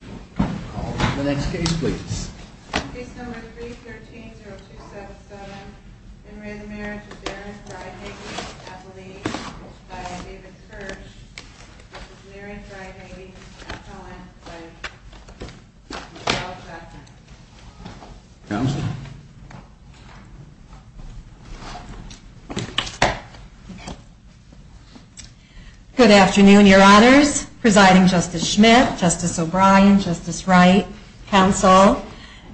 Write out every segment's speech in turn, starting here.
The next case please. Case number 313-0277. In re Marriage of Darren Freihage, Appellee, by David Spurge. Marriage of Freihage, Appellant, by Michelle Chapman. Counsel. Good afternoon, your honors. Presiding Justice Schmidt, Justice O'Brien, Justice Wright, counsel.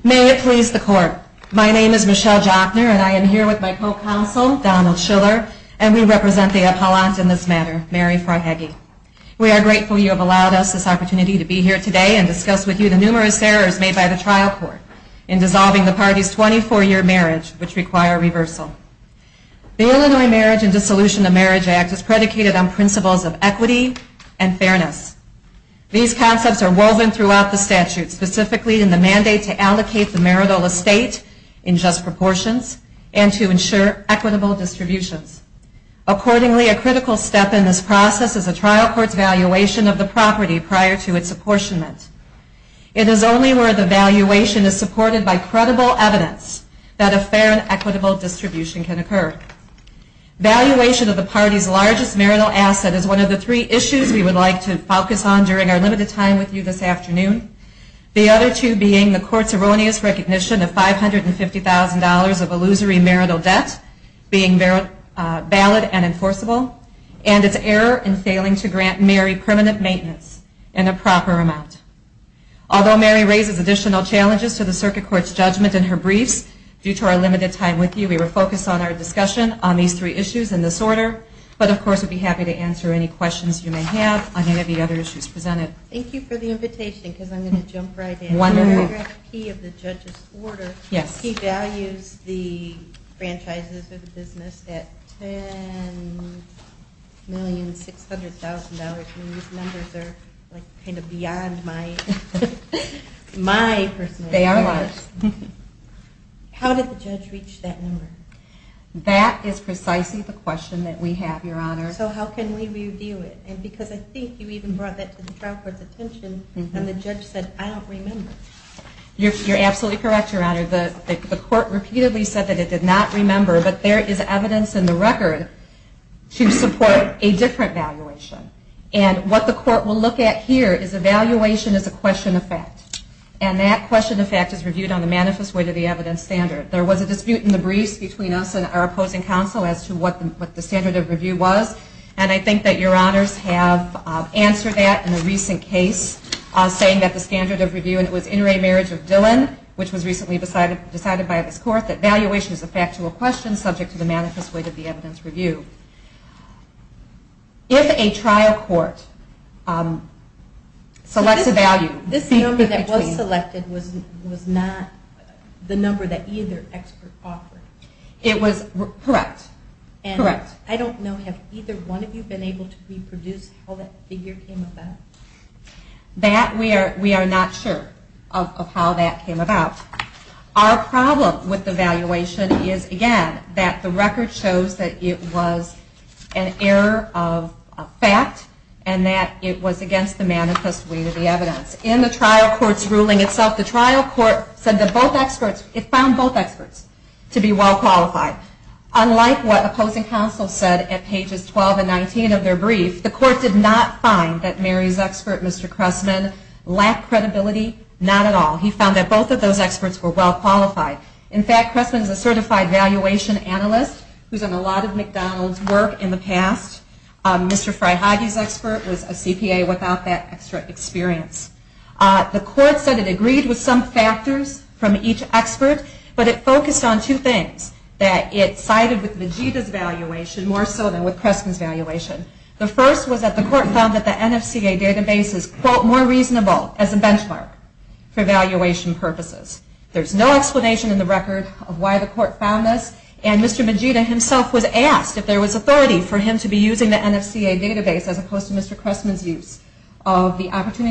May it please the court. My name is Michelle Jochner, and I am here with my co-counsel, Donald Schiller, and we represent the appellant in this matter, Mary Freihage. We are grateful you have allowed us this opportunity to be here today and discuss with you the numerous errors made by the trial court in dissolving the party's 24-year marriage, which require reversal. The Illinois Marriage and Dissolution of Marriage Act is predicated on principles of equity and fairness. These concepts are woven throughout the statute, specifically in the mandate to allocate the marital estate in just proportions and to ensure equitable distributions. Accordingly, a critical step in this process is a trial court's valuation of the property prior to its apportionment. It is only where the valuation is supported by credible evidence that a fair and equitable distribution can occur. Valuation of the party's largest marital asset is one of the three issues we would like to focus on during our limited time with you this afternoon. The other two being the court's erroneous recognition of $550,000 of illusory marital debt being valid and enforceable, and its error in failing to grant Mary permanent maintenance in a proper amount. Although Mary raises additional challenges to the circuit court's judgment in her briefs, due to our limited time with you, we will focus on our discussion on these three issues in this order. But of course, we would be happy to answer any questions you may have on any of the other issues presented. Thank you for the invitation, because I'm going to jump right in. Wonderful. In the key of the judge's order, he values the franchises or the business at $10,600,000. I mean, these numbers are kind of beyond my personal standards. They are large. How did the judge reach that number? That is precisely the question that we have, Your Honor. So how can we review it? And because I think you even brought that to the trial court's attention, and the judge said, I don't remember. You're absolutely correct, Your Honor. The court repeatedly said that it did not remember, but there is evidence in the record to support a different valuation. And what the court will look at here is evaluation as a question of fact. And that question of fact is reviewed on the manifest way to the evidence standard. There was a dispute in the briefs between us and our opposing counsel as to what the standard of review was. And I think that Your Honors have answered that in a recent case, saying that the standard of review, and it was in re-marriage of Dillon, which was recently decided by this court, that valuation is a factual question subject to the manifest way to the evidence review. If a trial court selects a value... This number that was selected was not the number that either expert offered. Correct. I don't know, have either one of you been able to reproduce how that figure came about? That, we are not sure of how that came about. Our problem with the valuation is, again, that the record shows that it was an error of fact, and that it was against the manifest way to the evidence. In the trial court's ruling itself, the trial court found both experts to be well qualified. Unlike what opposing counsel said at pages 12 and 19 of their brief, the court did not find that Mary's expert, Mr. Cressman, lacked credibility. Not at all. He found that both of those experts were well qualified. In fact, Cressman is a certified valuation analyst who has done a lot of McDonald's work in the past. Mr. Fryhage's expert was a CPA without that extra experience. The court said it agreed with some factors from each expert, but it focused on two things. That it sided with Majita's valuation more so than with Cressman's valuation. The first was that the court found that the NFCA database is, quote, more reasonable as a benchmark for valuation purposes. There's no explanation in the record of why the court found this, and Mr. Majita himself was asked if there was authority for him to be using the NFCA database as opposed to Mr. Cressman's use. In fact,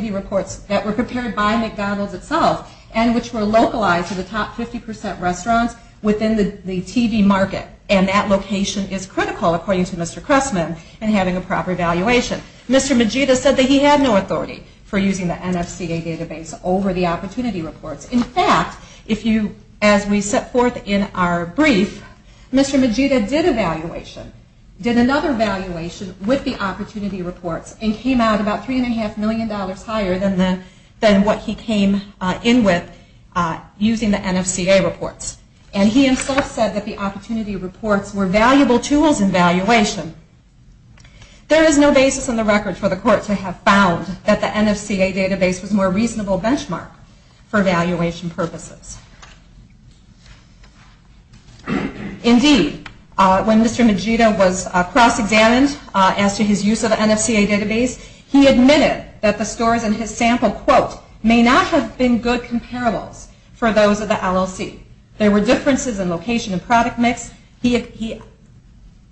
as we set forth in our brief, Mr. Majita did evaluation, did another evaluation with the opportunity reports, and came out about 3.5% more than Mr. Cressman. $3.5 million higher than what he came in with using the NFCA reports. And he himself said that the opportunity reports were valuable tools in valuation. There is no basis in the record for the court to have found that the NFCA database was a more reasonable benchmark for valuation purposes. Indeed, when Mr. Majita was cross-examined as to his use of the NFCA database, he admitted that the scores in his sample, quote, may not have been good comparables for those of the LLC. There were differences in location and product mix. He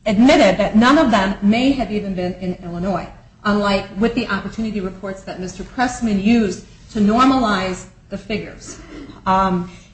admitted that none of them may have even been in Illinois, unlike with the opportunity reports that Mr. Cressman used to normalize the figures.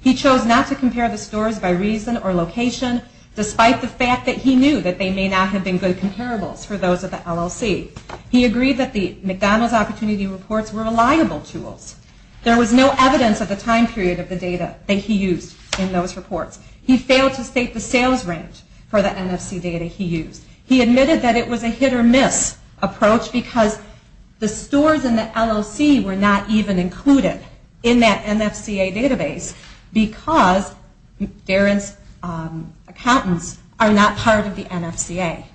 He chose not to compare the scores by reason or location, despite the fact that he knew that they may not have been good comparables for those of the LLC. He agreed that the McDonald's opportunity reports were reliable tools. There was no evidence of the time period of the data that he used in those reports. He failed to state the sales range for the NFC data he used. He admitted that it was a hit or miss approach because the scores in the LLC were not even included in that NFCA database because Darren's accountants are not part of the NFCA.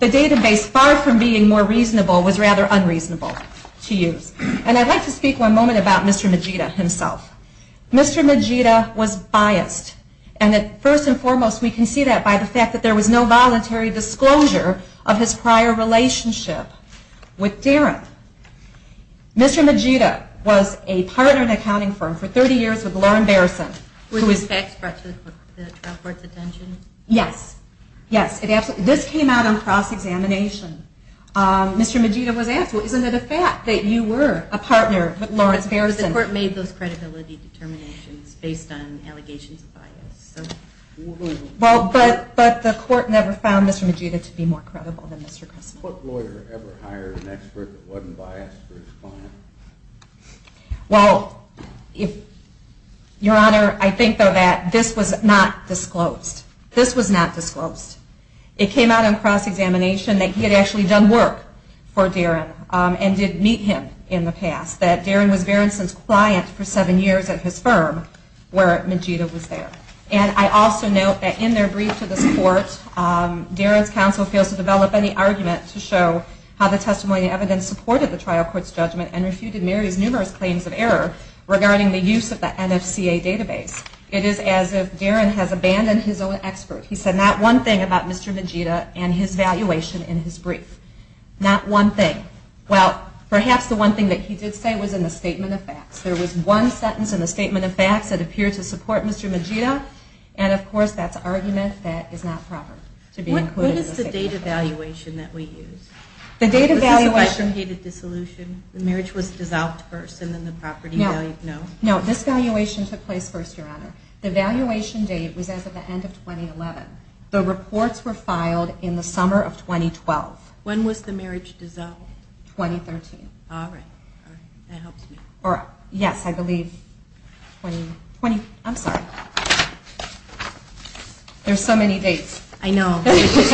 The database, far from being more reasonable, was rather unreasonable to use. And I'd like to speak one moment about Mr. Majita himself. Mr. Majita was biased. And first and foremost, we can see that by the fact that there was no voluntary disclosure of his prior relationship with Darren. Mr. Majita was a partner in an accounting firm for 30 years with Lauren Bereson. Was the fact spread to the trial court's attention? Yes. Yes. This came out on cross-examination. Mr. Majita was asked, well, isn't it a fact that you were a partner with Lauren Bereson? The court made those credibility determinations based on allegations of bias. Well, but the court never found Mr. Majita to be more credible than Mr. Crespo. What lawyer ever hired an expert that wasn't biased for his client? Well, Your Honor, I think, though, that this was not disclosed. This was not disclosed. It came out on cross-examination that he had actually done work for Darren and did meet him in the past. That Darren was Bereson's client for seven years at his firm where Majita was there. And I also note that in their brief to this court, Darren's counsel fails to develop any argument to show how the testimony and evidence supported the trial court's judgment and refuted Mary's numerous claims of error regarding the use of the NFCA database. It is as if Darren has abandoned his own expert. He said not one thing about Mr. Majita and his valuation in his brief. Not one thing. Well, perhaps the one thing that he did say was in the statement of facts. There was one sentence in the statement of facts that appeared to support Mr. Majita. And, of course, that's argument that is not proper to be included in the statement of facts. What is the date evaluation that we used? The date evaluation... Was this a case of dated dissolution? The marriage was dissolved first and then the property value? No. No, this valuation took place first, Your Honor. The valuation date was at the end of 2011. The reports were filed in the summer of 2012. When was the marriage dissolved? 2013. All right. All right. That helps me. Yes, I believe... 20... 20... I'm sorry. There's so many dates. I know. Which is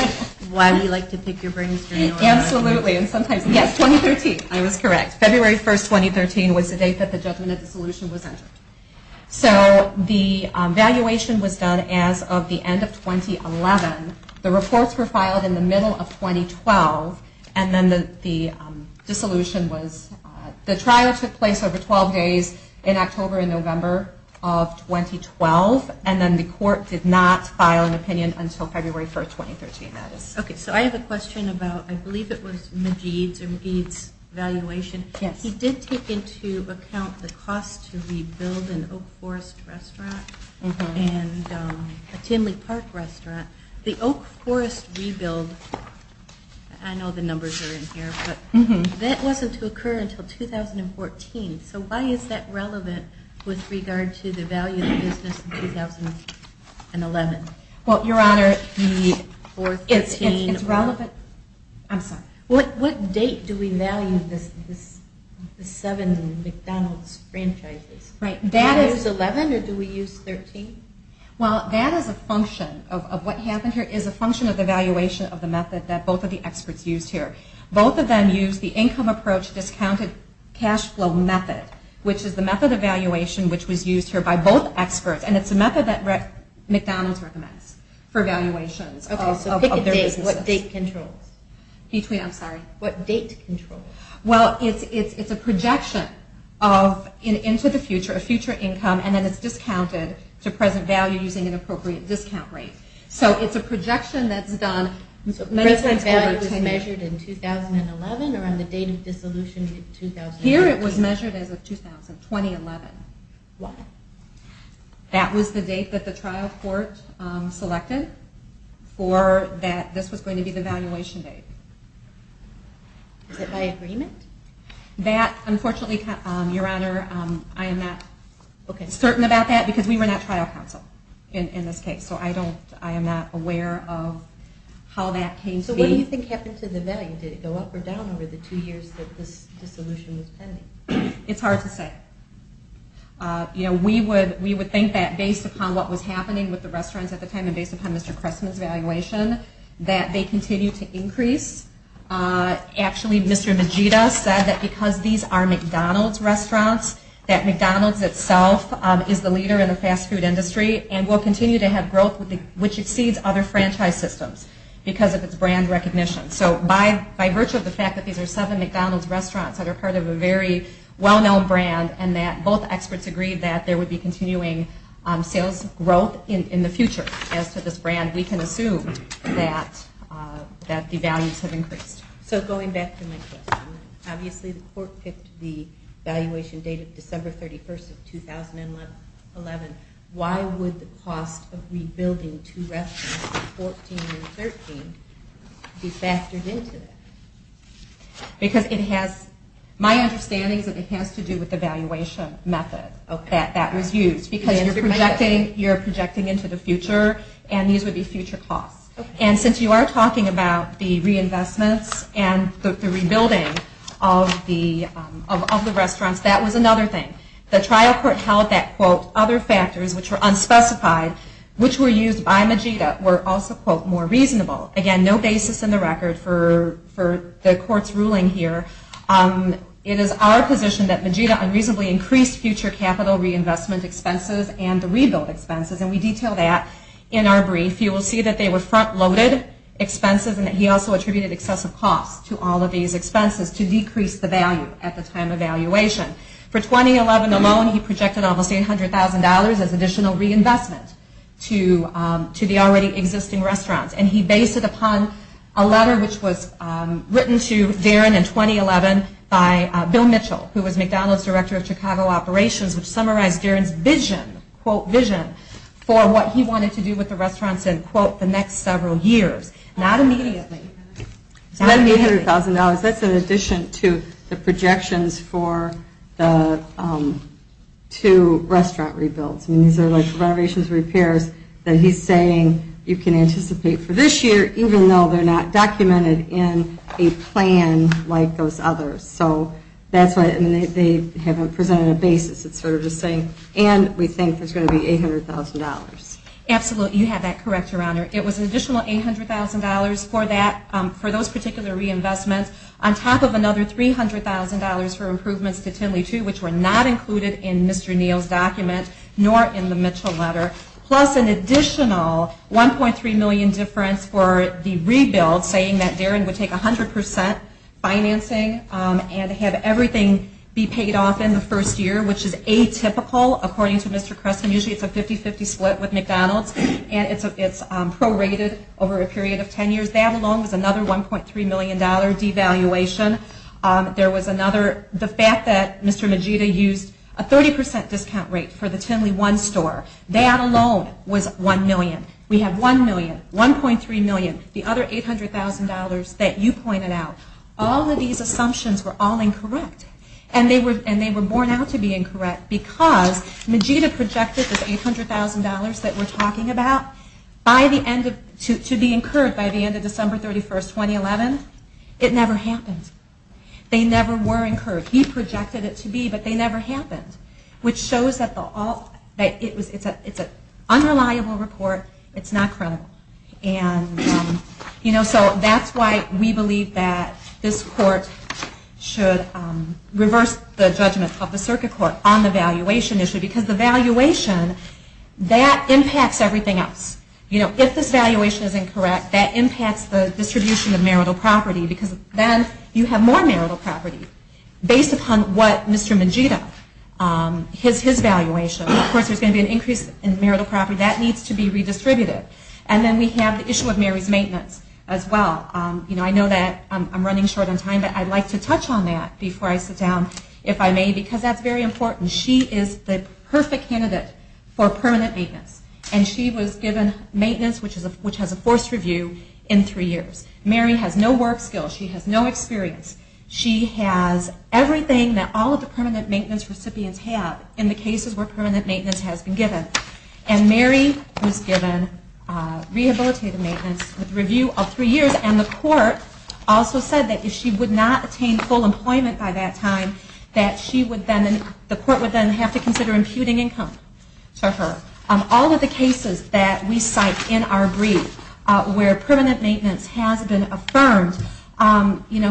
why we like to pick your brains, Your Honor. Absolutely. And sometimes... Yes, 2013. I was correct. February 1, 2013 was the date that the judgment of dissolution was entered. So, the valuation was done as of the end of 2011. The reports were filed in the middle of 2012. And then the dissolution was... The trial took place over 12 days in October and November of 2012. And then the court did not file an opinion until February 1, 2013, that is. Okay. So, I have a question about... I believe it was Majeed's evaluation. Yes. He did take into account the cost to rebuild an Oak Forest restaurant and a Timley Park restaurant. The Oak Forest rebuild, I know the numbers are in here, but that wasn't to occur until 2014. So, why is that relevant with regard to the value of the business in 2011? Well, Your Honor, it's relevant... I'm sorry. What date do we value the seven McDonald's franchises? Right. Do we use 11 or do we use 13? Well, that is a function of what happened here, is a function of the valuation of the method that both of the experts used here. Both of them used the income approach discounted cash flow method, which is the method of valuation which was used here by both experts. And it's a method that McDonald's recommends for valuations of their businesses. Okay. So, pick a date. What date controls? I'm sorry. What date controls? Well, it's a projection into the future, a future income, and then it's discounted to present value using an appropriate discount rate. So, it's a projection that's done... So, present value was measured in 2011 or on the date of dissolution in 2011? Here it was measured as of 2011. Why? That was the date that the trial court selected for that this was going to be the valuation date. Is that by agreement? That, unfortunately, Your Honor, I am not certain about that because we were not trial counsel in this case. So, I am not aware of how that came to be. So, what do you think happened to the value? Did it go up or down over the two years that this dissolution was pending? It's hard to say. We would think that based upon what was happening with the restaurants at the time and based upon Mr. Cressman's valuation, that they continue to increase. Actually, Mr. Vegeta said that because these are McDonald's restaurants, that McDonald's itself is the leader in the fast food industry and will continue to have growth which exceeds other franchise systems because of its brand recognition. So, by virtue of the fact that these are seven McDonald's restaurants that are part of a very well-known brand and that both experts agree that there would be continuing sales growth in the future as to this brand, we can assume that the values have increased. So, going back to my question, obviously the court picked the valuation date of December 31st of 2011. Why would the cost of rebuilding two restaurants in 2014 and 2013 be factored into that? My understanding is that it has to do with the valuation method that was used because you're projecting into the future and these would be future costs. Since you are talking about the reinvestments and the rebuilding of the restaurants, that was another thing. The trial court held that, quote, other factors which were unspecified, which were used by Vegeta, were also, quote, more reasonable. Again, no basis in the record for the court's ruling here. It is our position that Vegeta unreasonably increased future capital reinvestment expenses and the rebuild expenses, and we detail that in our brief. You will see that they were front-loaded expenses and that he also attributed excessive costs to all of these expenses to decrease the value at the time of valuation. For 2011 alone, he projected almost $800,000 as additional reinvestment to the already existing restaurants, and he based it upon a letter which was written to Darin in 2011 by Bill Mitchell, who was McDonald's Director of Chicago Operations, which summarized Darin's vision, quote, vision for what he wanted to do with the restaurants in, quote, the next several years. Not immediately. $800,000, that's in addition to the projections for the two restaurant rebuilds. These are like renovations and repairs that he's saying you can anticipate for this year even though they're not documented in a plan like those others. So that's why they haven't presented a basis. It's sort of just saying, and we think there's going to be $800,000. Absolutely. You have that correct, Your Honor. It was an additional $800,000 for those particular reinvestments on top of another $300,000 for improvements to Tinley 2, which were not included in Mr. Neal's document nor in the Mitchell letter, plus an additional $1.3 million difference for the rebuild, saying that Darin would take 100% financing and have everything be paid off in the first year, which is atypical, according to Mr. Creston. Usually it's a 50-50 split with McDonald's, and it's prorated over a period of 10 years. That alone was another $1.3 million devaluation. There was another, the fact that Mr. Magida used a 30% discount rate for the Tinley 1 store. That alone was $1 million. We have $1 million, $1.3 million, the other $800,000 that you pointed out. All of these assumptions were all incorrect, and they were borne out to be incorrect because Magida projected this $800,000 that we're talking about to be incurred by the end of December 31, 2011. It never happened. They never were incurred. He projected it to be, but they never happened, which shows that it's an unreliable report. It's not credible. And so that's why we believe that this court should reverse the judgment of the circuit court on the valuation issue, because the valuation, that impacts everything else. If this valuation is incorrect, that impacts the distribution of marital property, because then you have more marital property based upon what Mr. Magida, his valuation. Of course, there's going to be an increase in marital property. That needs to be redistributed. And then we have the issue of Mary's maintenance as well. I know that I'm running short on time, but I'd like to touch on that before I sit down, if I may, because that's very important. She is the perfect candidate for permanent maintenance, and she was given maintenance, which has a forced review in three years. Mary has no work skills. She has no experience. She has everything that all of the permanent maintenance recipients have in the cases where permanent maintenance has been given. And Mary was given rehabilitative maintenance with a review of three years, and the court also said that if she would not attain full employment by that time, that the court would then have to consider imputing income to her. All of the cases that we cite in our brief where permanent maintenance has been affirmed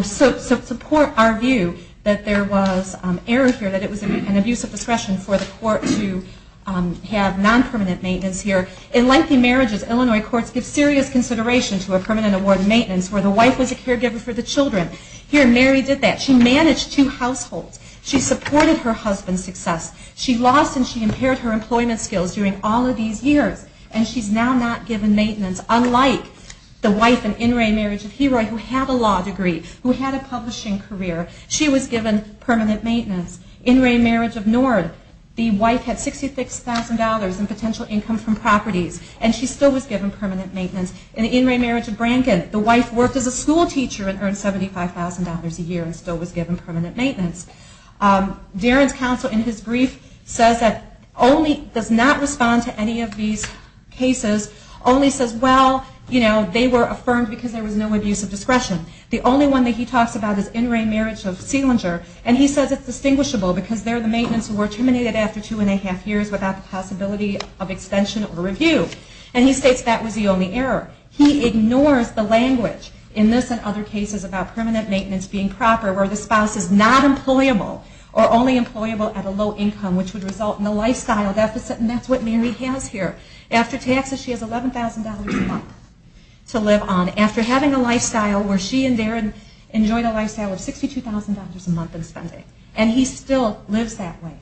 support our view that there was error here, that it was an abuse of discretion for the court to have non-permanent maintenance here. In lengthy marriages, Illinois courts give serious consideration to a permanent award of maintenance where the wife was a caregiver for the children. Here, Mary did that. She managed two households. She supported her husband's success. She lost and she impaired her employment skills during all of these years, and she's now not given maintenance, unlike the wife in In Re Marriage of Heroy who had a law degree, who had a publishing career. She was given permanent maintenance. In Re Marriage of Nord, the wife had $66,000 in potential income from properties, and she still was given permanent maintenance. In the In Re Marriage of Branken, the wife worked as a school teacher and earned $75,000 a year and still was given permanent maintenance. Darren's counsel in his brief does not respond to any of these cases, only says, well, they were affirmed because there was no abuse of discretion. The only one that he talks about is In Re Marriage of Selinger, and he says it's distinguishable because they're the maintenance who were terminated after two and a half years without the possibility of extension or review. And he states that was the only error. He ignores the language in this and other cases about permanent maintenance being proper where the spouse is not employable or only employable at a low income, which would result in a lifestyle deficit, and that's what Mary has here. After taxes, she has $11,000 a month to live on. After having a lifestyle where she and Darren enjoyed a lifestyle of $62,000 a month in spending, and he still lives that way,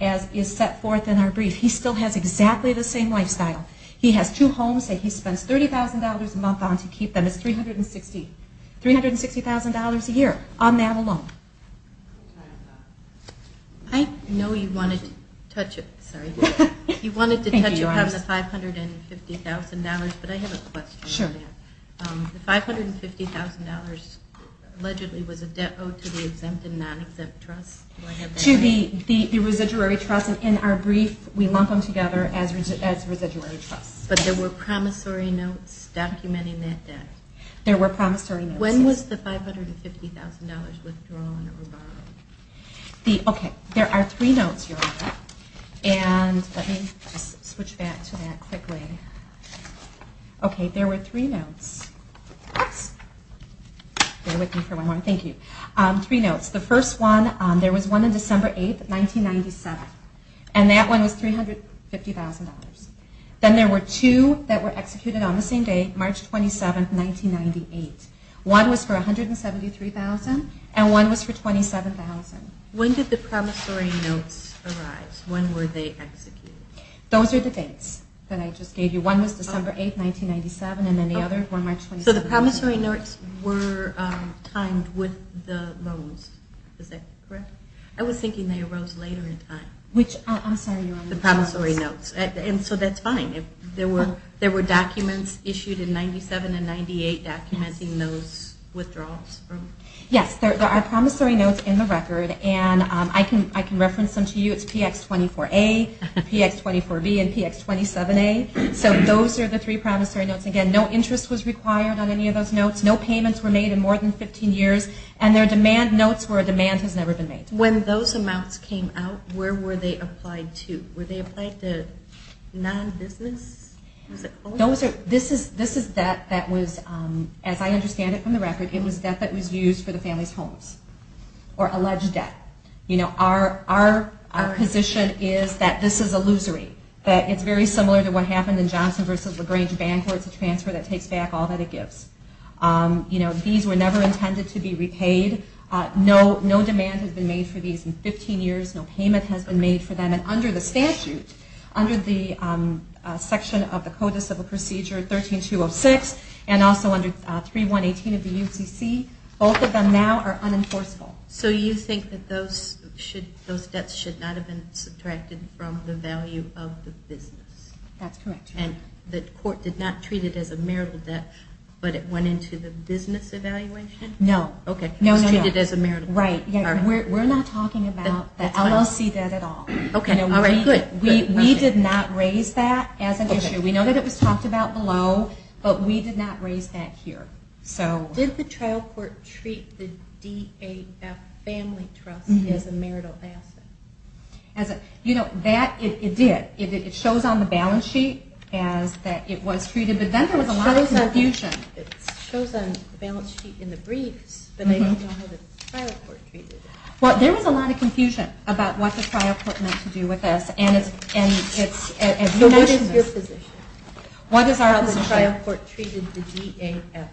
as is set forth in our brief. He still has exactly the same lifestyle. He has two homes that he spends $30,000 a month on to keep them. It's $360,000 a year on that alone. I know you wanted to touch upon the $550,000, but I have a question on that. The $550,000 allegedly was a debt owed to the exempt and non-exempt trust. To the residuary trust, and in our brief we lump them together as residuary trusts. But there were promissory notes documenting that debt? There were promissory notes. When was the $550,000 withdrawn or borrowed? Okay, there are three notes here. Let me just switch back to that quickly. Okay, there were three notes. Bear with me for one more. Thank you. Three notes. The first one, there was one on December 8, 1997, and that one was $350,000. Then there were two that were executed on the same day, March 27, 1998. One was for $173,000, and one was for $27,000. When did the promissory notes arise? When were they executed? Those are the dates that I just gave you. One was December 8, 1997, and then the other for March 27, 1997. So the promissory notes were timed with the loans. Is that correct? I was thinking they arose later in time. Which, I'm sorry, you were on the promissory notes. And so that's fine. There were documents issued in 1997 and 1998 documenting those withdrawals. Yes, there are promissory notes in the record, and I can reference them to you. It's PX24A, PX24B, and PX27A. So those are the three promissory notes. Again, no interest was required on any of those notes. No payments were made in more than 15 years. And there are demand notes where a demand has never been made. When those amounts came out, where were they applied to? Were they applied to non-business? This is debt that was, as I understand it from the record, it was debt that was used for the family's homes, or alleged debt. Our position is that this is illusory, that it's very similar to what happened in Johnson v. LaGrange bank, where it's a transfer that takes back all that it gives. These were never intended to be repaid. No demand has been made for these in 15 years. No payment has been made for them. And under the statute, under the section of the Code of Civil Procedure 13-206, and also under 3-118 of the UCC, both of them now are unenforceable. So you think that those debts should not have been subtracted from the value of the business? That's correct. And the court did not treat it as a marital debt, but it went into the business evaluation? No. It was treated as a marital debt. Right. We're not talking about the LLC debt at all. We did not raise that as an issue. We know that it was talked about below, but we did not raise that here. Did the trial court treat the DAF family trust as a marital asset? It did. It shows on the balance sheet that it was treated, but then there was a lot of confusion. It shows on the balance sheet in the briefs, but I don't know how the trial court treated it. Well, there was a lot of confusion about what the trial court meant to do with us. So what is your position? How the trial court treated the DAF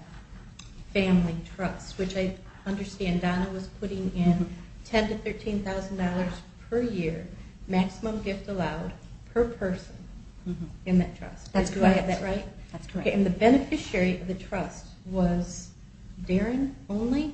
family trust, which I understand Donna was putting in $10,000 to $13,000 per year, maximum gift allowed per person in that trust. That's correct. And the beneficiary of the trust was Darren only?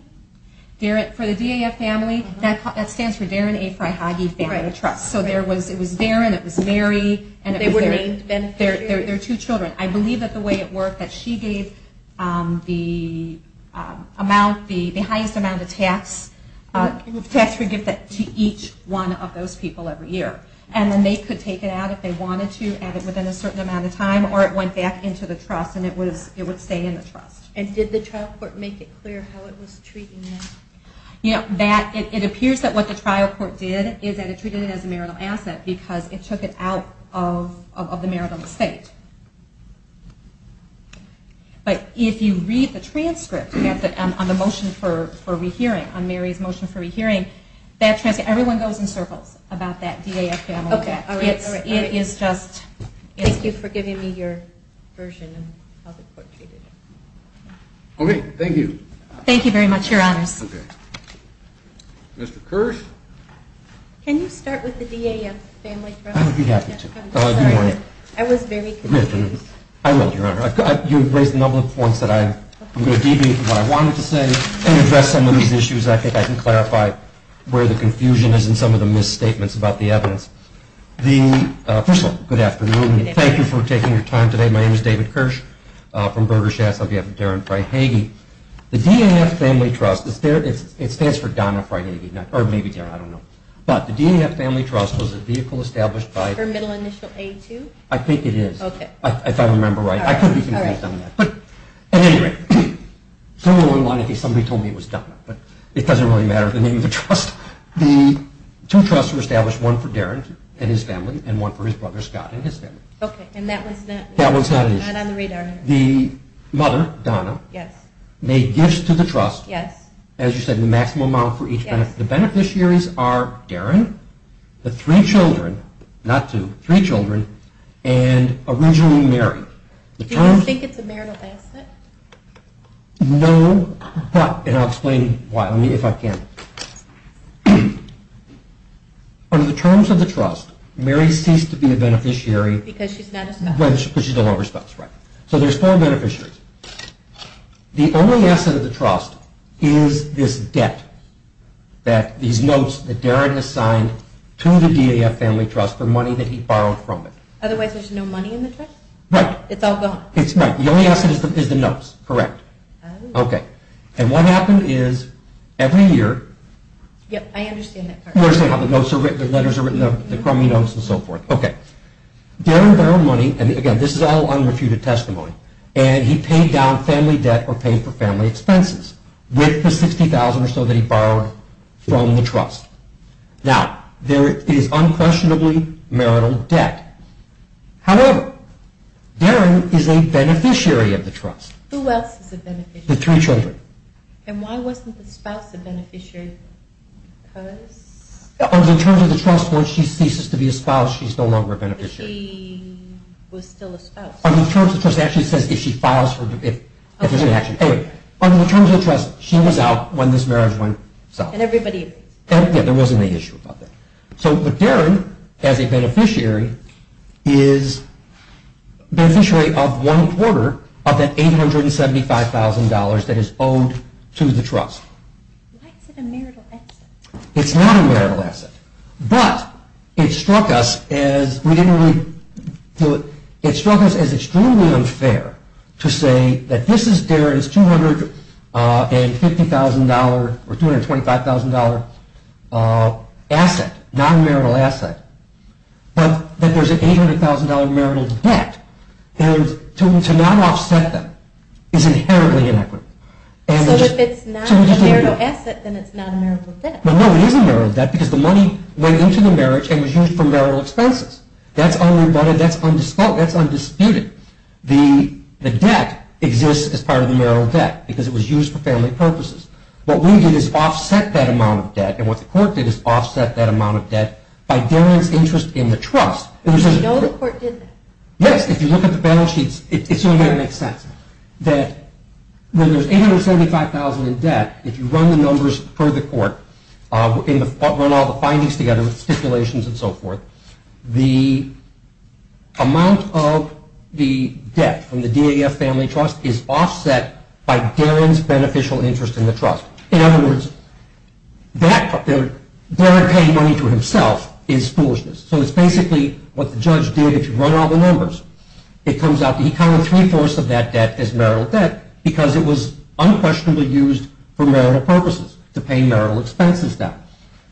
For the DAF family, that stands for Darren A. Fryhage Family Trust. So it was Darren, it was Mary. They were named beneficiaries? They were two children. I believe that the way it worked, that she gave the highest amount of tax for gift to each one of those people every year. And then they could take it out if they wanted to within a certain amount of time, or it went back into the trust and it would stay in the trust. And did the trial court make it clear how it was treating it? It appears that what the trial court did is that it treated it as a marital asset because it took it out of the marital estate. But if you read the transcript on the motion for rehearing, on Mary's motion for rehearing, that transcript, everyone goes in circles about that DAF family. Okay, all right. It is just... Thank you for giving me your version of how the court treated it. Okay, thank you. Thank you very much, Your Honors. Okay. Mr. Kirsch? Can you start with the DAF family trust? I would be happy to. I'm sorry. I was very confused. I will, Your Honor. You've raised a number of points that I'm going to deviate from what I wanted to say and address some of these issues. I think I can clarify where the confusion is and some of the misstatements about the evidence. First of all, good afternoon. Thank you for taking your time today. My name is David Kirsch from Berger Schatz. I'll be having Darin Fry-Hagey. The DAF family trust, it stands for Donna Fry-Hagey, or maybe Darin, I don't know. But the DAF family trust was a vehicle established by... For Middle Initial A2? I think it is. Okay. If I remember right. I could be confused on that. But at any rate, someone told me it was Donna, but it doesn't really matter the name of the trust. The two trusts were established, one for Darin and his family and one for his brother Scott and his family. Okay. And that one's not on the radar. That one's not an issue. Not on the radar. The mother, Donna, Yes. made gifts to the trust. Yes. As you said, the maximum amount for each benefit. Yes. The beneficiaries are Darin, the three children, not two, three children, and originally married. Do you think it's a marital benefit? No. And I'll explain why, if I can. Under the terms of the trust, Mary ceased to be a beneficiary. Because she's not a spouse. Because she's a lone spouse. Right. So there's four beneficiaries. The only asset of the trust is this debt, these notes that Darin has signed to the DAF Family Trust for money that he borrowed from it. Otherwise there's no money in the trust? Right. It's all gone. It's not. The only asset is the notes. Correct. Oh. Okay. And what happened is, every year... Yep. I understand that part. You understand how the notes are written, the letters are written, the crummy notes, and so forth. Okay. Darin borrowed money, and again, this is all unrefuted testimony, and he paid down family debt or paid for family expenses with the $60,000 or so that he borrowed from the trust. Now, there is unquestionably marital debt. However, Darin is a beneficiary of the trust. Who else is a beneficiary? The three children. And why wasn't the spouse a beneficiary? Because... In terms of the trust, once she ceases to be a spouse, she's no longer a beneficiary. Because she was still a spouse. In terms of the trust, it actually says if she files for... Okay. Anyway, in terms of the trust, she was out when this marriage went south. And everybody agrees. Yeah, there wasn't any issue about that. So, Darin, as a beneficiary, is a beneficiary of one quarter of that $875,000 that is owed to the trust. Why is it a marital asset? It's not a marital asset. But, it struck us as... We didn't really... It struck us as extremely unfair to say that this is Darin's $250,000 or $225,000 asset, non-marital asset, but that there's an $800,000 marital debt. And to not offset that is inherently inequitable. So, if it's not a marital asset, then it's not a marital debt. No, it is a marital debt because the money went into the marriage and was used for marital expenses. That's undisputed. The debt exists as part of the marital debt because it was used for family purposes. What we did is offset that amount of debt, and what the court did is offset that amount of debt by Darin's interest in the trust. You know the court did that? Yes, if you look at the balance sheets, it sort of makes sense. That when there's $875,000 in debt, if you run the numbers per the court, run all the findings together with stipulations and so forth, the amount of the debt from the DAF family trust is offset by Darin's beneficial interest in the trust. In other words, Darin paying money to himself is foolishness. So it's basically what the judge did. If you run all the numbers, it comes out that he counted three-fourths of that debt as marital debt because it was unquestionably used for marital purposes to pay marital expenses down.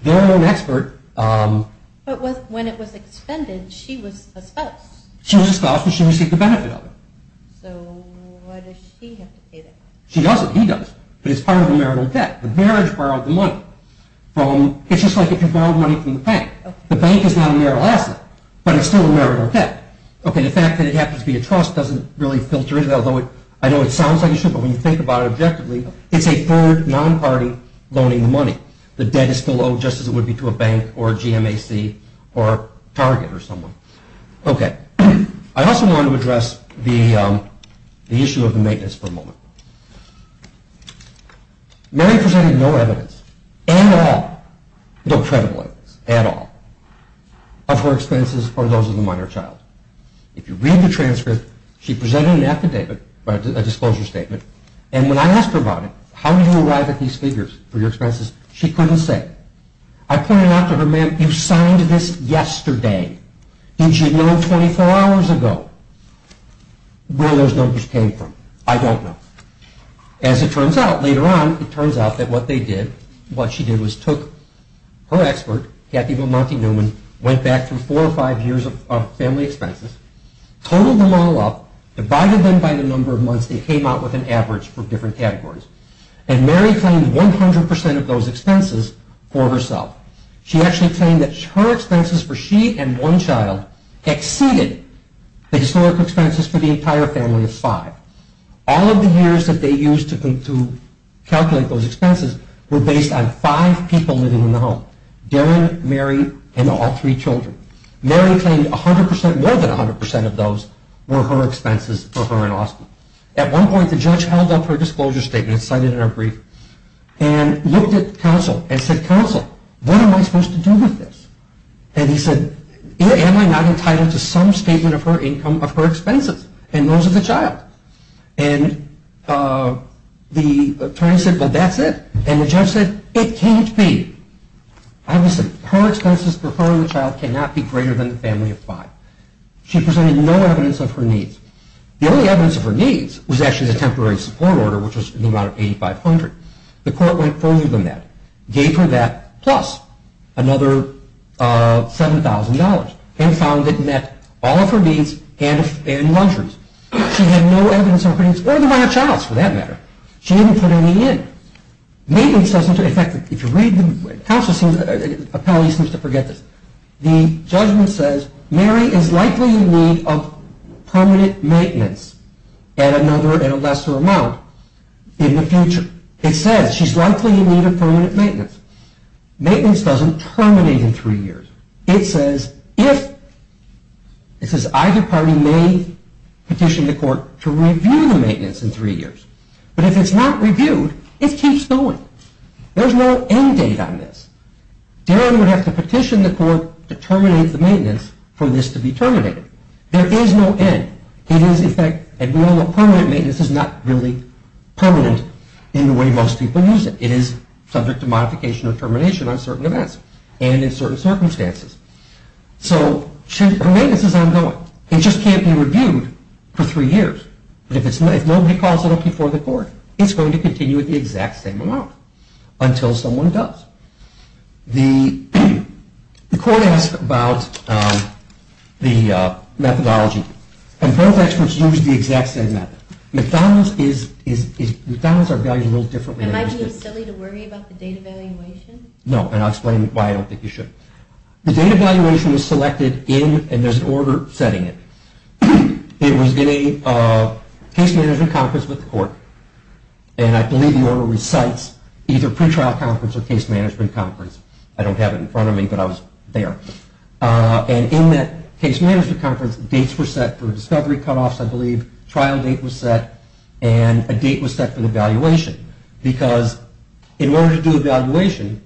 Darin was an expert. But when it was expended, she was a spouse. She was a spouse because she received the benefit of it. So why does she have to pay that? She doesn't. He does. But it's part of the marital debt. The marriage borrowed the money. It's just like if you borrowed money from the bank. The bank is not a marital asset, but it's still a marital debt. Okay, the fact that it happens to be a trust doesn't really filter in, although I know it sounds like it should, but when you think about it objectively, it's a third non-party loaning money. The debt is still owed just as it would be to a bank or a GMAC or Target or someone. Okay. I also wanted to address the issue of the maintenance for a moment. Mary presented no evidence at all, no credible evidence at all, of her expenses for those of the minor child. If you read the transcript, she presented an affidavit, a disclosure statement, and when I asked her about it, how did you arrive at these figures for your expenses, she couldn't say. I pointed out to her, Ma'am, you signed this yesterday. Didn't you know 24 hours ago where those numbers came from? I don't know. As it turns out, later on, it turns out that what they did, what she did was took her expert, Kathy Vomonti Newman, went back through four or five years of family expenses, totaled them all up, divided them by the number of months they came out with an average for different categories, and Mary claimed 100% of those expenses for herself. She actually claimed that her expenses for she and one child exceeded the historic expenses for the entire family of five. All of the years that they used to calculate those expenses were based on five people living in the home, Darren, Mary, and all three children. Mary claimed 100%, more than 100% of those were her expenses for her and Austin. At one point, the judge held up her disclosure statement, cited it in her brief, and looked at counsel, and said, Counsel, what am I supposed to do with this? And he said, Am I not entitled to some statement of her income of her expenses and those of the child? And the attorney said, Well, that's it. And the judge said, It can't be. Obviously, her expenses for her and the child cannot be greater than the family of five. She presented no evidence of her needs. The only evidence of her needs was actually the temporary support order, which was in the amount of $8,500. The court went further than that, gave her that, plus another $7,000, and found it met all of her needs and luxuries. She had no evidence of her needs or the amount of childs, for that matter. She didn't put any in. Maintenance doesn't, in fact, if you read the, counsel seems, appellee seems to forget this. The judgment says, Mary is likely in need of permanent maintenance at another, at a lesser amount in the future. It says, she's likely in need of permanent maintenance. Maintenance doesn't terminate in three years. It says, if, it says, either party may petition the court to review the maintenance in three years. But if it's not reviewed, it keeps going. There's no end date on this. Darren would have to petition the court to terminate the maintenance for this to be terminated. There is no end. It is, in fact, a rule of permanent maintenance is not really permanent in the way most people use it. It is subject to modification or termination on certain events and in certain circumstances. So, maintenance is ongoing. It just can't be reviewed for three years. But if it's, if it's not reviewed, it's going to go before the court. It's going to continue at the exact same amount until someone does. The, the court asked about the methodology and both experts used the exact same method. McDonald's is, is, McDonald's are valued a little differently. Am I being silly to worry about the data valuation? No, and I'll explain why I don't think you should. The data valuation is selected in, and there's an order setting it. It was in a, a case management conference with the court, and I believe the order recites either pretrial conference or case management conference. I don't have it in front of me, but I was there. And in that case management conference, dates were set for discovery cutoffs, I believe, trial date was set, and a date was set for the valuation because in order to do a valuation,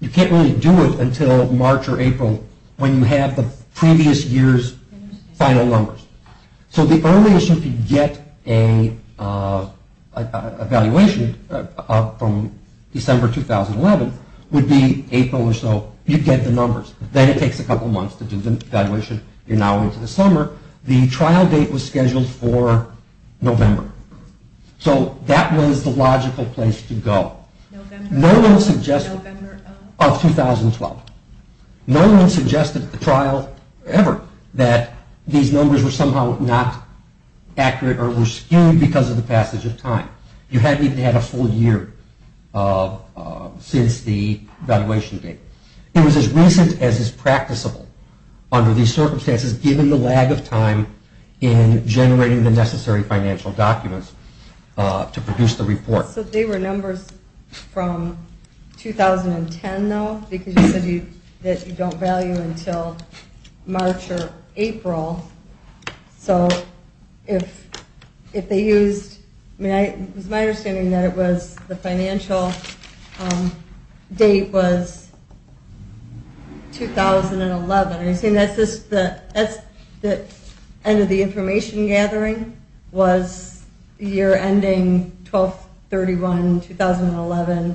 you can't really do it until March or April when you have the previous year's final numbers. So, the only issue if you get a, a, a, a valuation from December 2011 would be April or so, you get the numbers. Then it takes a couple months to do the valuation. You're now into the summer. The trial date was scheduled for November. So, that was the logical place to go. No one suggested, of 2012. No one suggested at the trial ever that these numbers were somehow not accurate or were skewed because of the passage of time. You hadn't even had a full year since the valuation date. It was as recent as is practicable under these circumstances given the lag of time in generating the necessary financial documents to produce the report. So, they were numbers from 2010 though because you said that you don't value until March or April. So, if, if they used, I mean, it was my understanding that it was the financial date was 2011. I mean, that's just the, that's the end of the information gathering was the year ending 12-31-2011.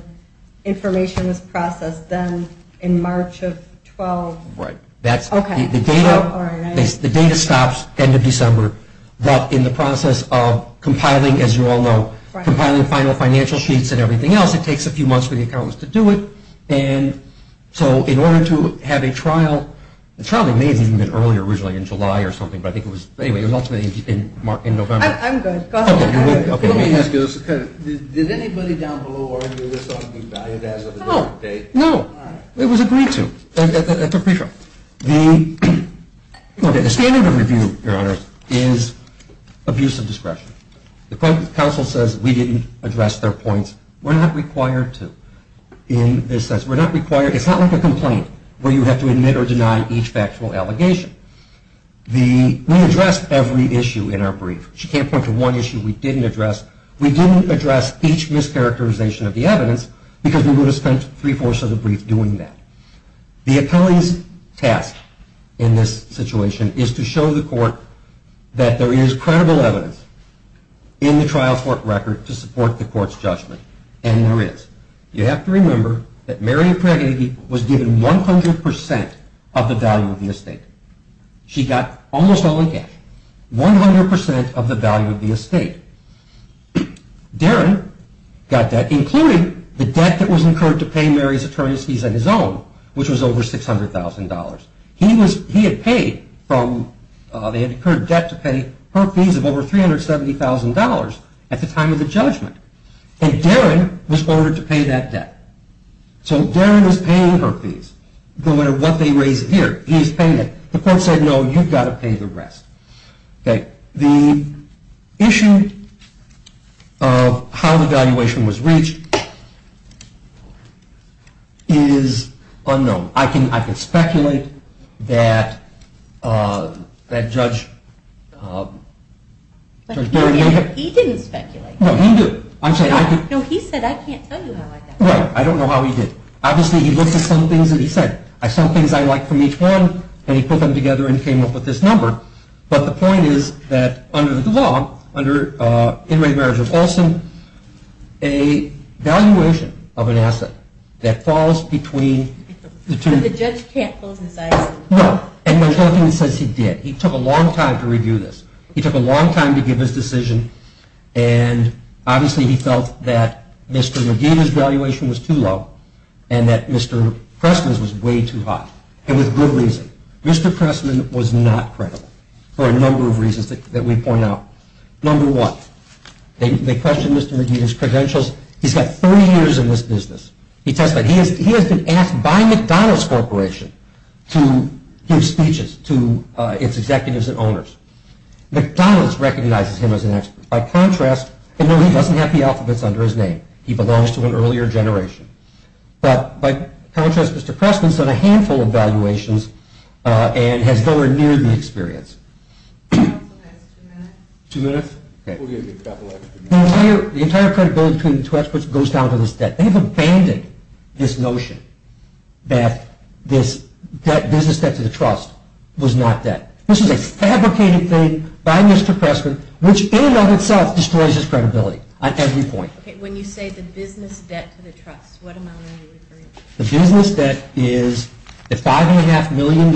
Information was processed then in March of 12- Right. That's, the data, the data stops end of December but in the process of compiling, as you all know, compiling final financial sheets and everything else, it takes a few months for the accountants to do it and so, in order to have a trial, the trial may have even been earlier, originally in July or something, but I think it was, anyway, it was ultimately in November. I'm good. Go ahead. Let me ask you this. Did anybody down below argue this on the value of the date? No. It was agreed to at the pre-trial. The, the standard of review, Your Honor, is abuse of discretion. The counsel says we didn't address their points. We're not required to in this sense. We're not required, it's not like a complaint where you have to admit or deny each factual allegation. The, we addressed every issue in our brief. She can't point to one issue we didn't address. We didn't address each mischaracterization of the evidence because we would have spent three-fourths of the brief doing that. The appellee's task in this situation is to show the court that there is credible evidence in the trial court record to support the court's judgment and there is. You have to remember that Marion Prager was given 100% of the value of the estate. She got almost all in cash. 100% of the value of the estate. Darren got that and he included the debt that was incurred to pay Marion's attorneys fees on his own which was over $600,000. He was, he had paid from, they had incurred debt to pay her fees of over $370,000 at the time of the judgment and Darren was ordered to pay that debt. So Darren was paying her fees no matter what they raised and he said here, he's paying it. The court said no, you've got to pay the rest. The issue of how the valuation was reached is unknown. I can speculate that Judge Berry may have... He didn't speculate. No, he did. No, he said I can't tell you how I got it. Right, I don't know how he did it. Obviously, he looked at some things and he said I saw things I liked from each one and he put them together and came up with this number but the point is that under the law, under Inmate Marriage of Olson, a valuation of an asset that falls between the two... that Pressman's valuation was too low and that Mr. Pressman's was way too high and with good reason. Mr. Pressman was not credible for a number of reasons that we pointed out. Number one, they questioned his credentials. He's had three years in this business. He has been asked by McDonald's Corporation to give speeches to its executives and owners. McDonald's recognizes him expert. By contrast, he doesn't have the alphabets under his name. He belongs to an earlier generation. By contrast, Mr. Pressman has abandoned this notion that this business debt to the trust was not debt. This is a fabricated thing by Mr. Pressman which in and of itself destroys his credibility on every point. The business debt is $5.5 billion.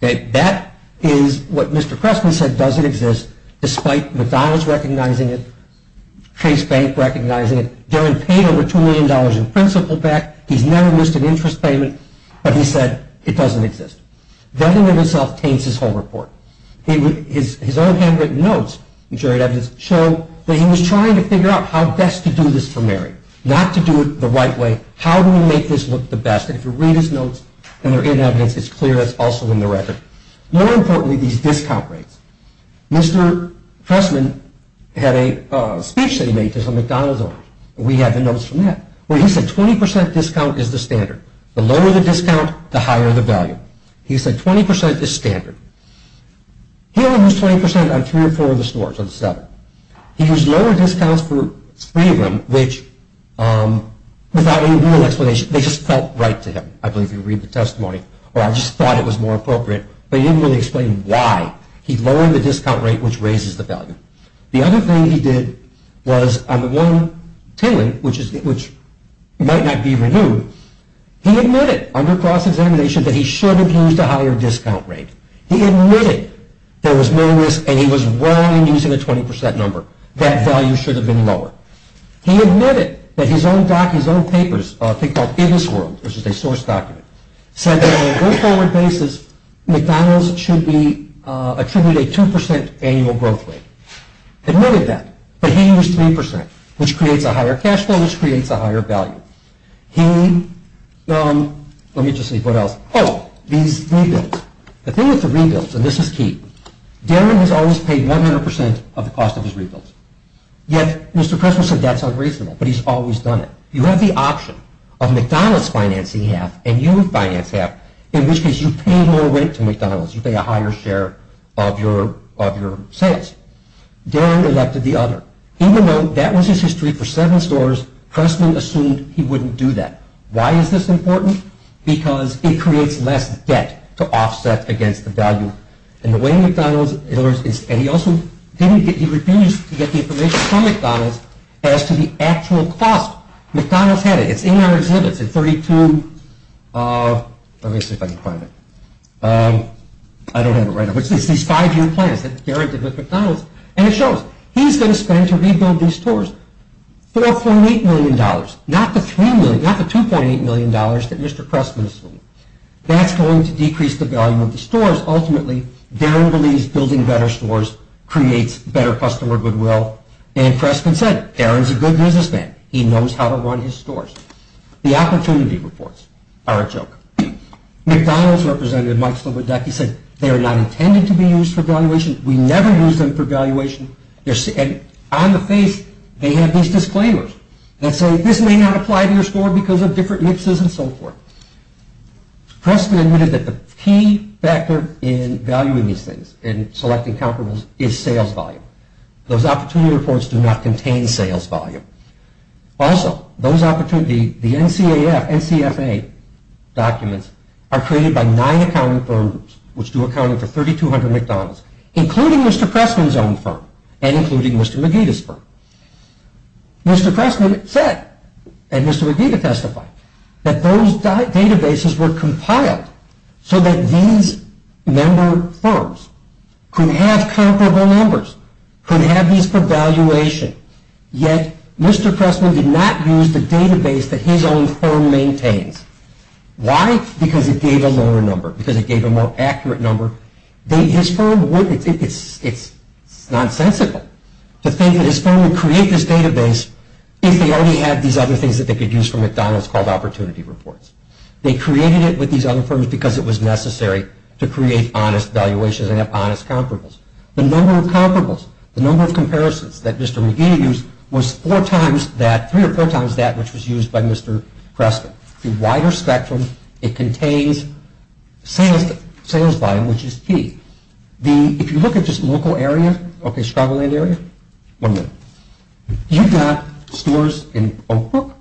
That is what Mr. Pressman said doesn't exist despite McDonald's recognizing it, Chase Bank recognizing it. He's never missed an interest payment but he said it doesn't exist. That in and of itself taints his credibility. He admitted there was no risk and he was willing to use a 20% number. That value should have been lower. He admitted that his own papers called Business World which is a source document said that on a basis there was a 2% annual growth rate. He admitted that but he used 3% which creates a higher cash flow and a higher value. The thing with the rebuilds is Darren has always done it. You have the option of McDonald's financing half and you finance half. You pay a higher share of your sales. Darren elected the other. Even though that was his history for seven stores he assumed he wouldn't do that. Why is this important? Because it creates less debt. He refused to get the information from McDonald's as to the actual cost. McDonald's had it. It's in our exhibits. It shows how much he spent rebuild the stores. $4.8 million. Not the $2.8 million. That's going to decrease the value of the stores. Ultimately Darren believes building better stores creates better customer goodwill. He knows how to run his stores. The opportunity reports are a joke. McDonald's representative said they are not intended to be used for valuation. We never use them for valuation. On the face they have these disclaimers that say this may not apply to your store. The opportunity reports do not contain sales volume. Also, the NCFA documents are created by nine accounting firms which do accounting for 3200 McDonald's including Mr. Pressman's firm. Mr. Pressman said that those databases were compiled so that these member firms could have comparable numbers, could have these for valuation. Yet, Mr. Pressman did not use the database that his own firm maintains. Why? Because it gave a lower number, a more accurate number. It is nonsensical to think that his firm would create this database if they already had these other things that they could use for McDonald's called opportunity reports. They created it with these other firms because it was necessary to create honest valuations and have honest comparables. The number of comparables, the number of comparisons that Mr. Pressman did, the wider spectrum, it contains sales volume which is key. If you look at this local area, you've got stores in Oakbrook,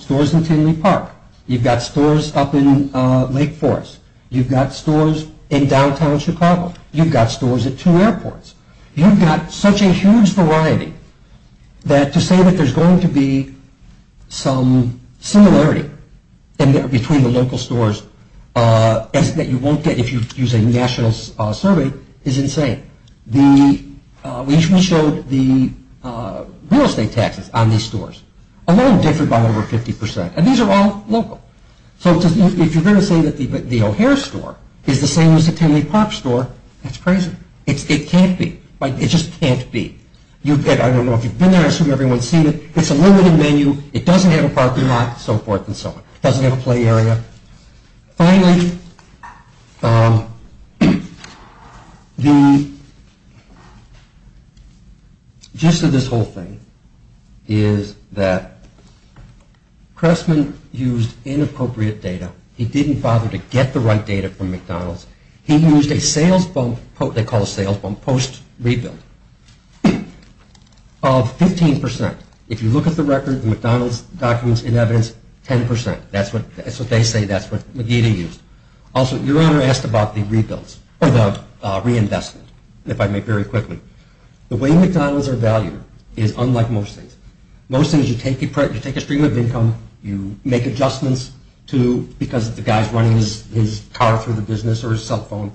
stores in Tinley Park, you've got stores up in Lake Forest, you've got stores in downtown Chicago, you've got stores at two airports, you've got such a huge variety that to say that there's going to be some similarity between the local stores that you won't get if you use a national survey is insane. We showed the real estate taxes on these stores, a little different by over 50%. And these are all local. So if you're going to say that the O'Hare store is the same as the Tinley Park store, that's crazy. It can't be. It just can't be. It doesn't have a parking lot and so forth. It doesn't have a play area. Finally, the gist of this whole thing is that Cressman used inappropriate data. He didn't bother to get the right data from McDonald's. He used a sales bump post rebuild of 15%. If you look at the record, the McDonald's documents and evidence, 10%. That's what they say. Also, your Honor asked about the reinvestment. The way McDonald's are valued is unlike most things. Most things, you take a stream of income, you make adjustments because the guy is running his car through the business or cell phone,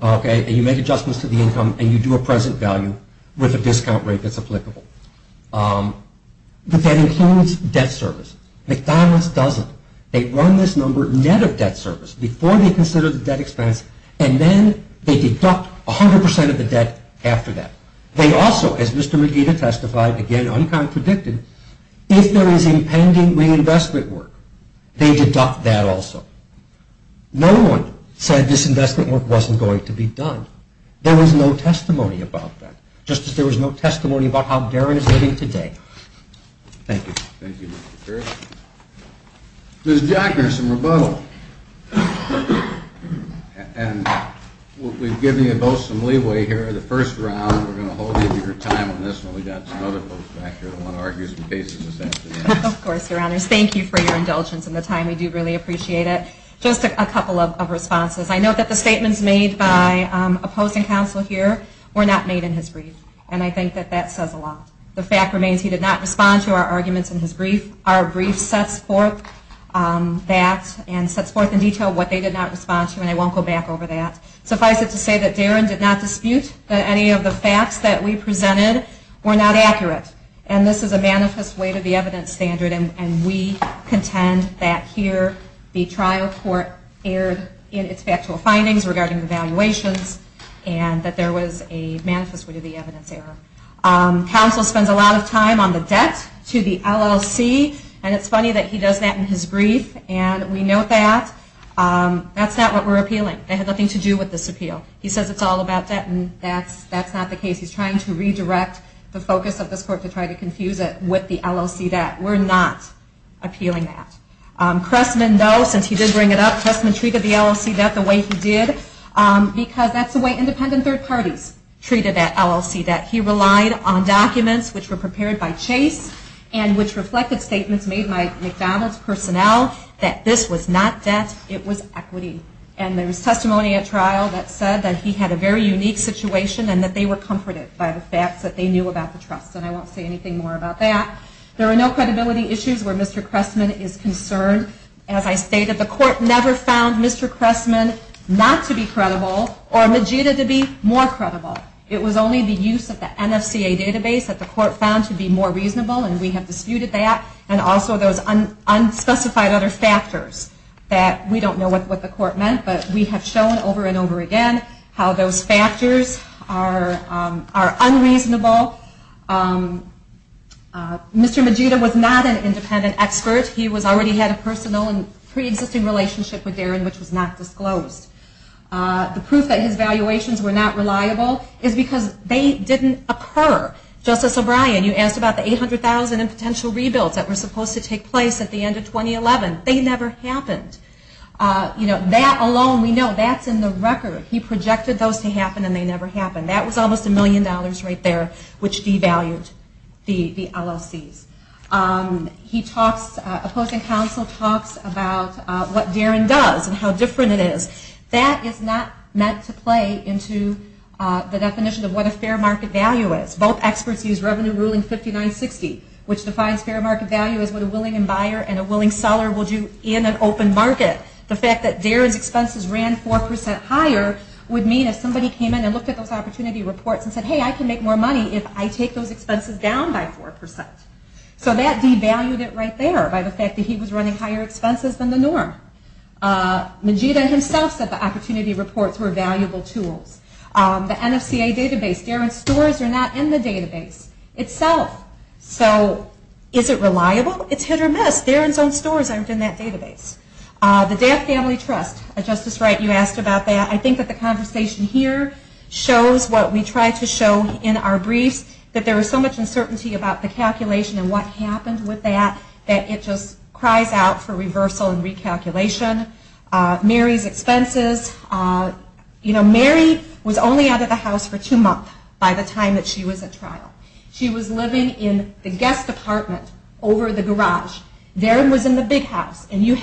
and you make adjustments to the income and you do a present value with a discount rate that's what you do. If there is impending reinvestment work, they deduct that also. No one said this investment work wasn't going to be done. There was no testimony about that. Just as there was no testimony about how Darren is living today. Thank you. Ms. Jackner, some rebuttal. We've given you both some leeway here. The first round we're going to hold you to your time on this. Of course, your honors. Thank you for your indulgence and the time. We do really appreciate it. Just a couple of things. Our brief sets forth in detail what they did not respond to. I won't go back over that. Suffice it to say that Darren did not dispute that any of the facts we presented were not accurate. This is a manifest way to the evidence standard. We contend that here the trial court erred in its factual findings regarding evaluations and that there was a manifest way to the evidence standard. Counsel spends a lot of time on the debt to the LLC. It's funny that he does that in his brief. We note that that's not what we're appealing. It has nothing to do with this appeal. He says it's all about debt and that's not the case. He's trying to redirect the focus of this court to try to confuse it with the LLC debt. We're not appealing that. Cressman though, since he did bring it up, treated the LLC debt the way he did because that's the way independent third parties treated that LLC debt. He relied on documents prepared by Chase and reflected statements made by McDonald's personnel that this was not debt, it was equity. And there was testimony at trial that said that he had a very unique situation and that they were comforted by the facts that they knew about the trust. And I won't say anything more about that. There are no credibility databases that the court found to be more reasonable and we have disputed that. And also those unspecified other factors that we don't know what the court meant, but we have shown over and over again how those factors are unreasonable. Mr. Magida was not an independent expert. He already had a personal and pre-existing relationship with Darren, which was not disclosed. The proof that his valuations were not reliable is because they didn't occur. Justice O'Brien, you asked about the 800,000 and potential rebuilds that were supposed to take place at the end of 2011. They never happened. That alone, we know, that's in the record. He projected those to happen and they never happened. That was almost a million dollars right there which devalued the LLCs. Opposing counsel talks about what Darren does and how different it is. That is not meant to play into the definition of what a fair market value is. Both experts use Revenue Ruling 5960, which defines fair market value as what a willing buyer and a willing seller would do in an open market. Manjita himself said the Opportunity Reports were valuable tools. The NFCA database, Darren's stores are not in the database itself. So is it reliable? It's hit or miss. Darren's own stores aren't in that database. The Death Family Trust, Justice Wright, you asked about that. I think the conversation here shows what we tried to show in our briefs. There was so much uncertainty about the calculation and what happened with that that it just cries out for reversal and recalculation. Mary's expenses, Mary was only out of the house for two months by the time she was at trial. She was living in the guest apartment over the garage. Darren was in the big house. She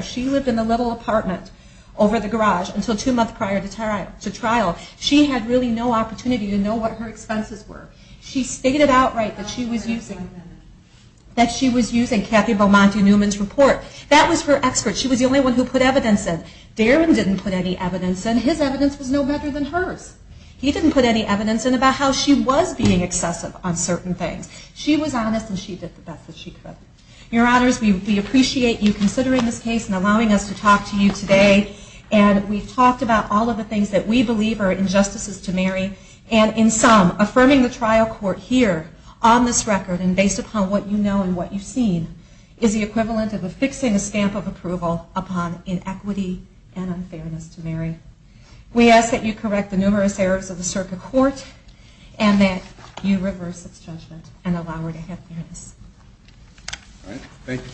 lived in the little apartment over the garage until two months prior to trial. She stated outright that she was using Cathy Beaumont Newman's report. Darren didn't put any evidence in. His testimony was unanimous and she did the best she could. Your honors, we appreciate you considering this case and allowing us to talk to you today and we've talked about all of the things that we believe are injustices to Mary and in some affirming the trial court here on this record and based upon what you know and what you've seen is the equivalent of affixing a stamp of approval upon inequity and unfairness to Mary. We ask that you correct the numerous errors of the circuit court and that you reverse its judgment and allow her to have fairness. Thank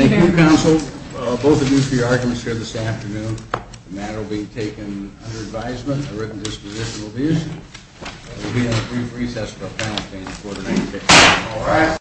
you, counsel. Both of you for your arguments here this afternoon. The matter will be taken under advisement. A written disposition will be issued. We'll be on a brief recess about panel discussion on case. Thank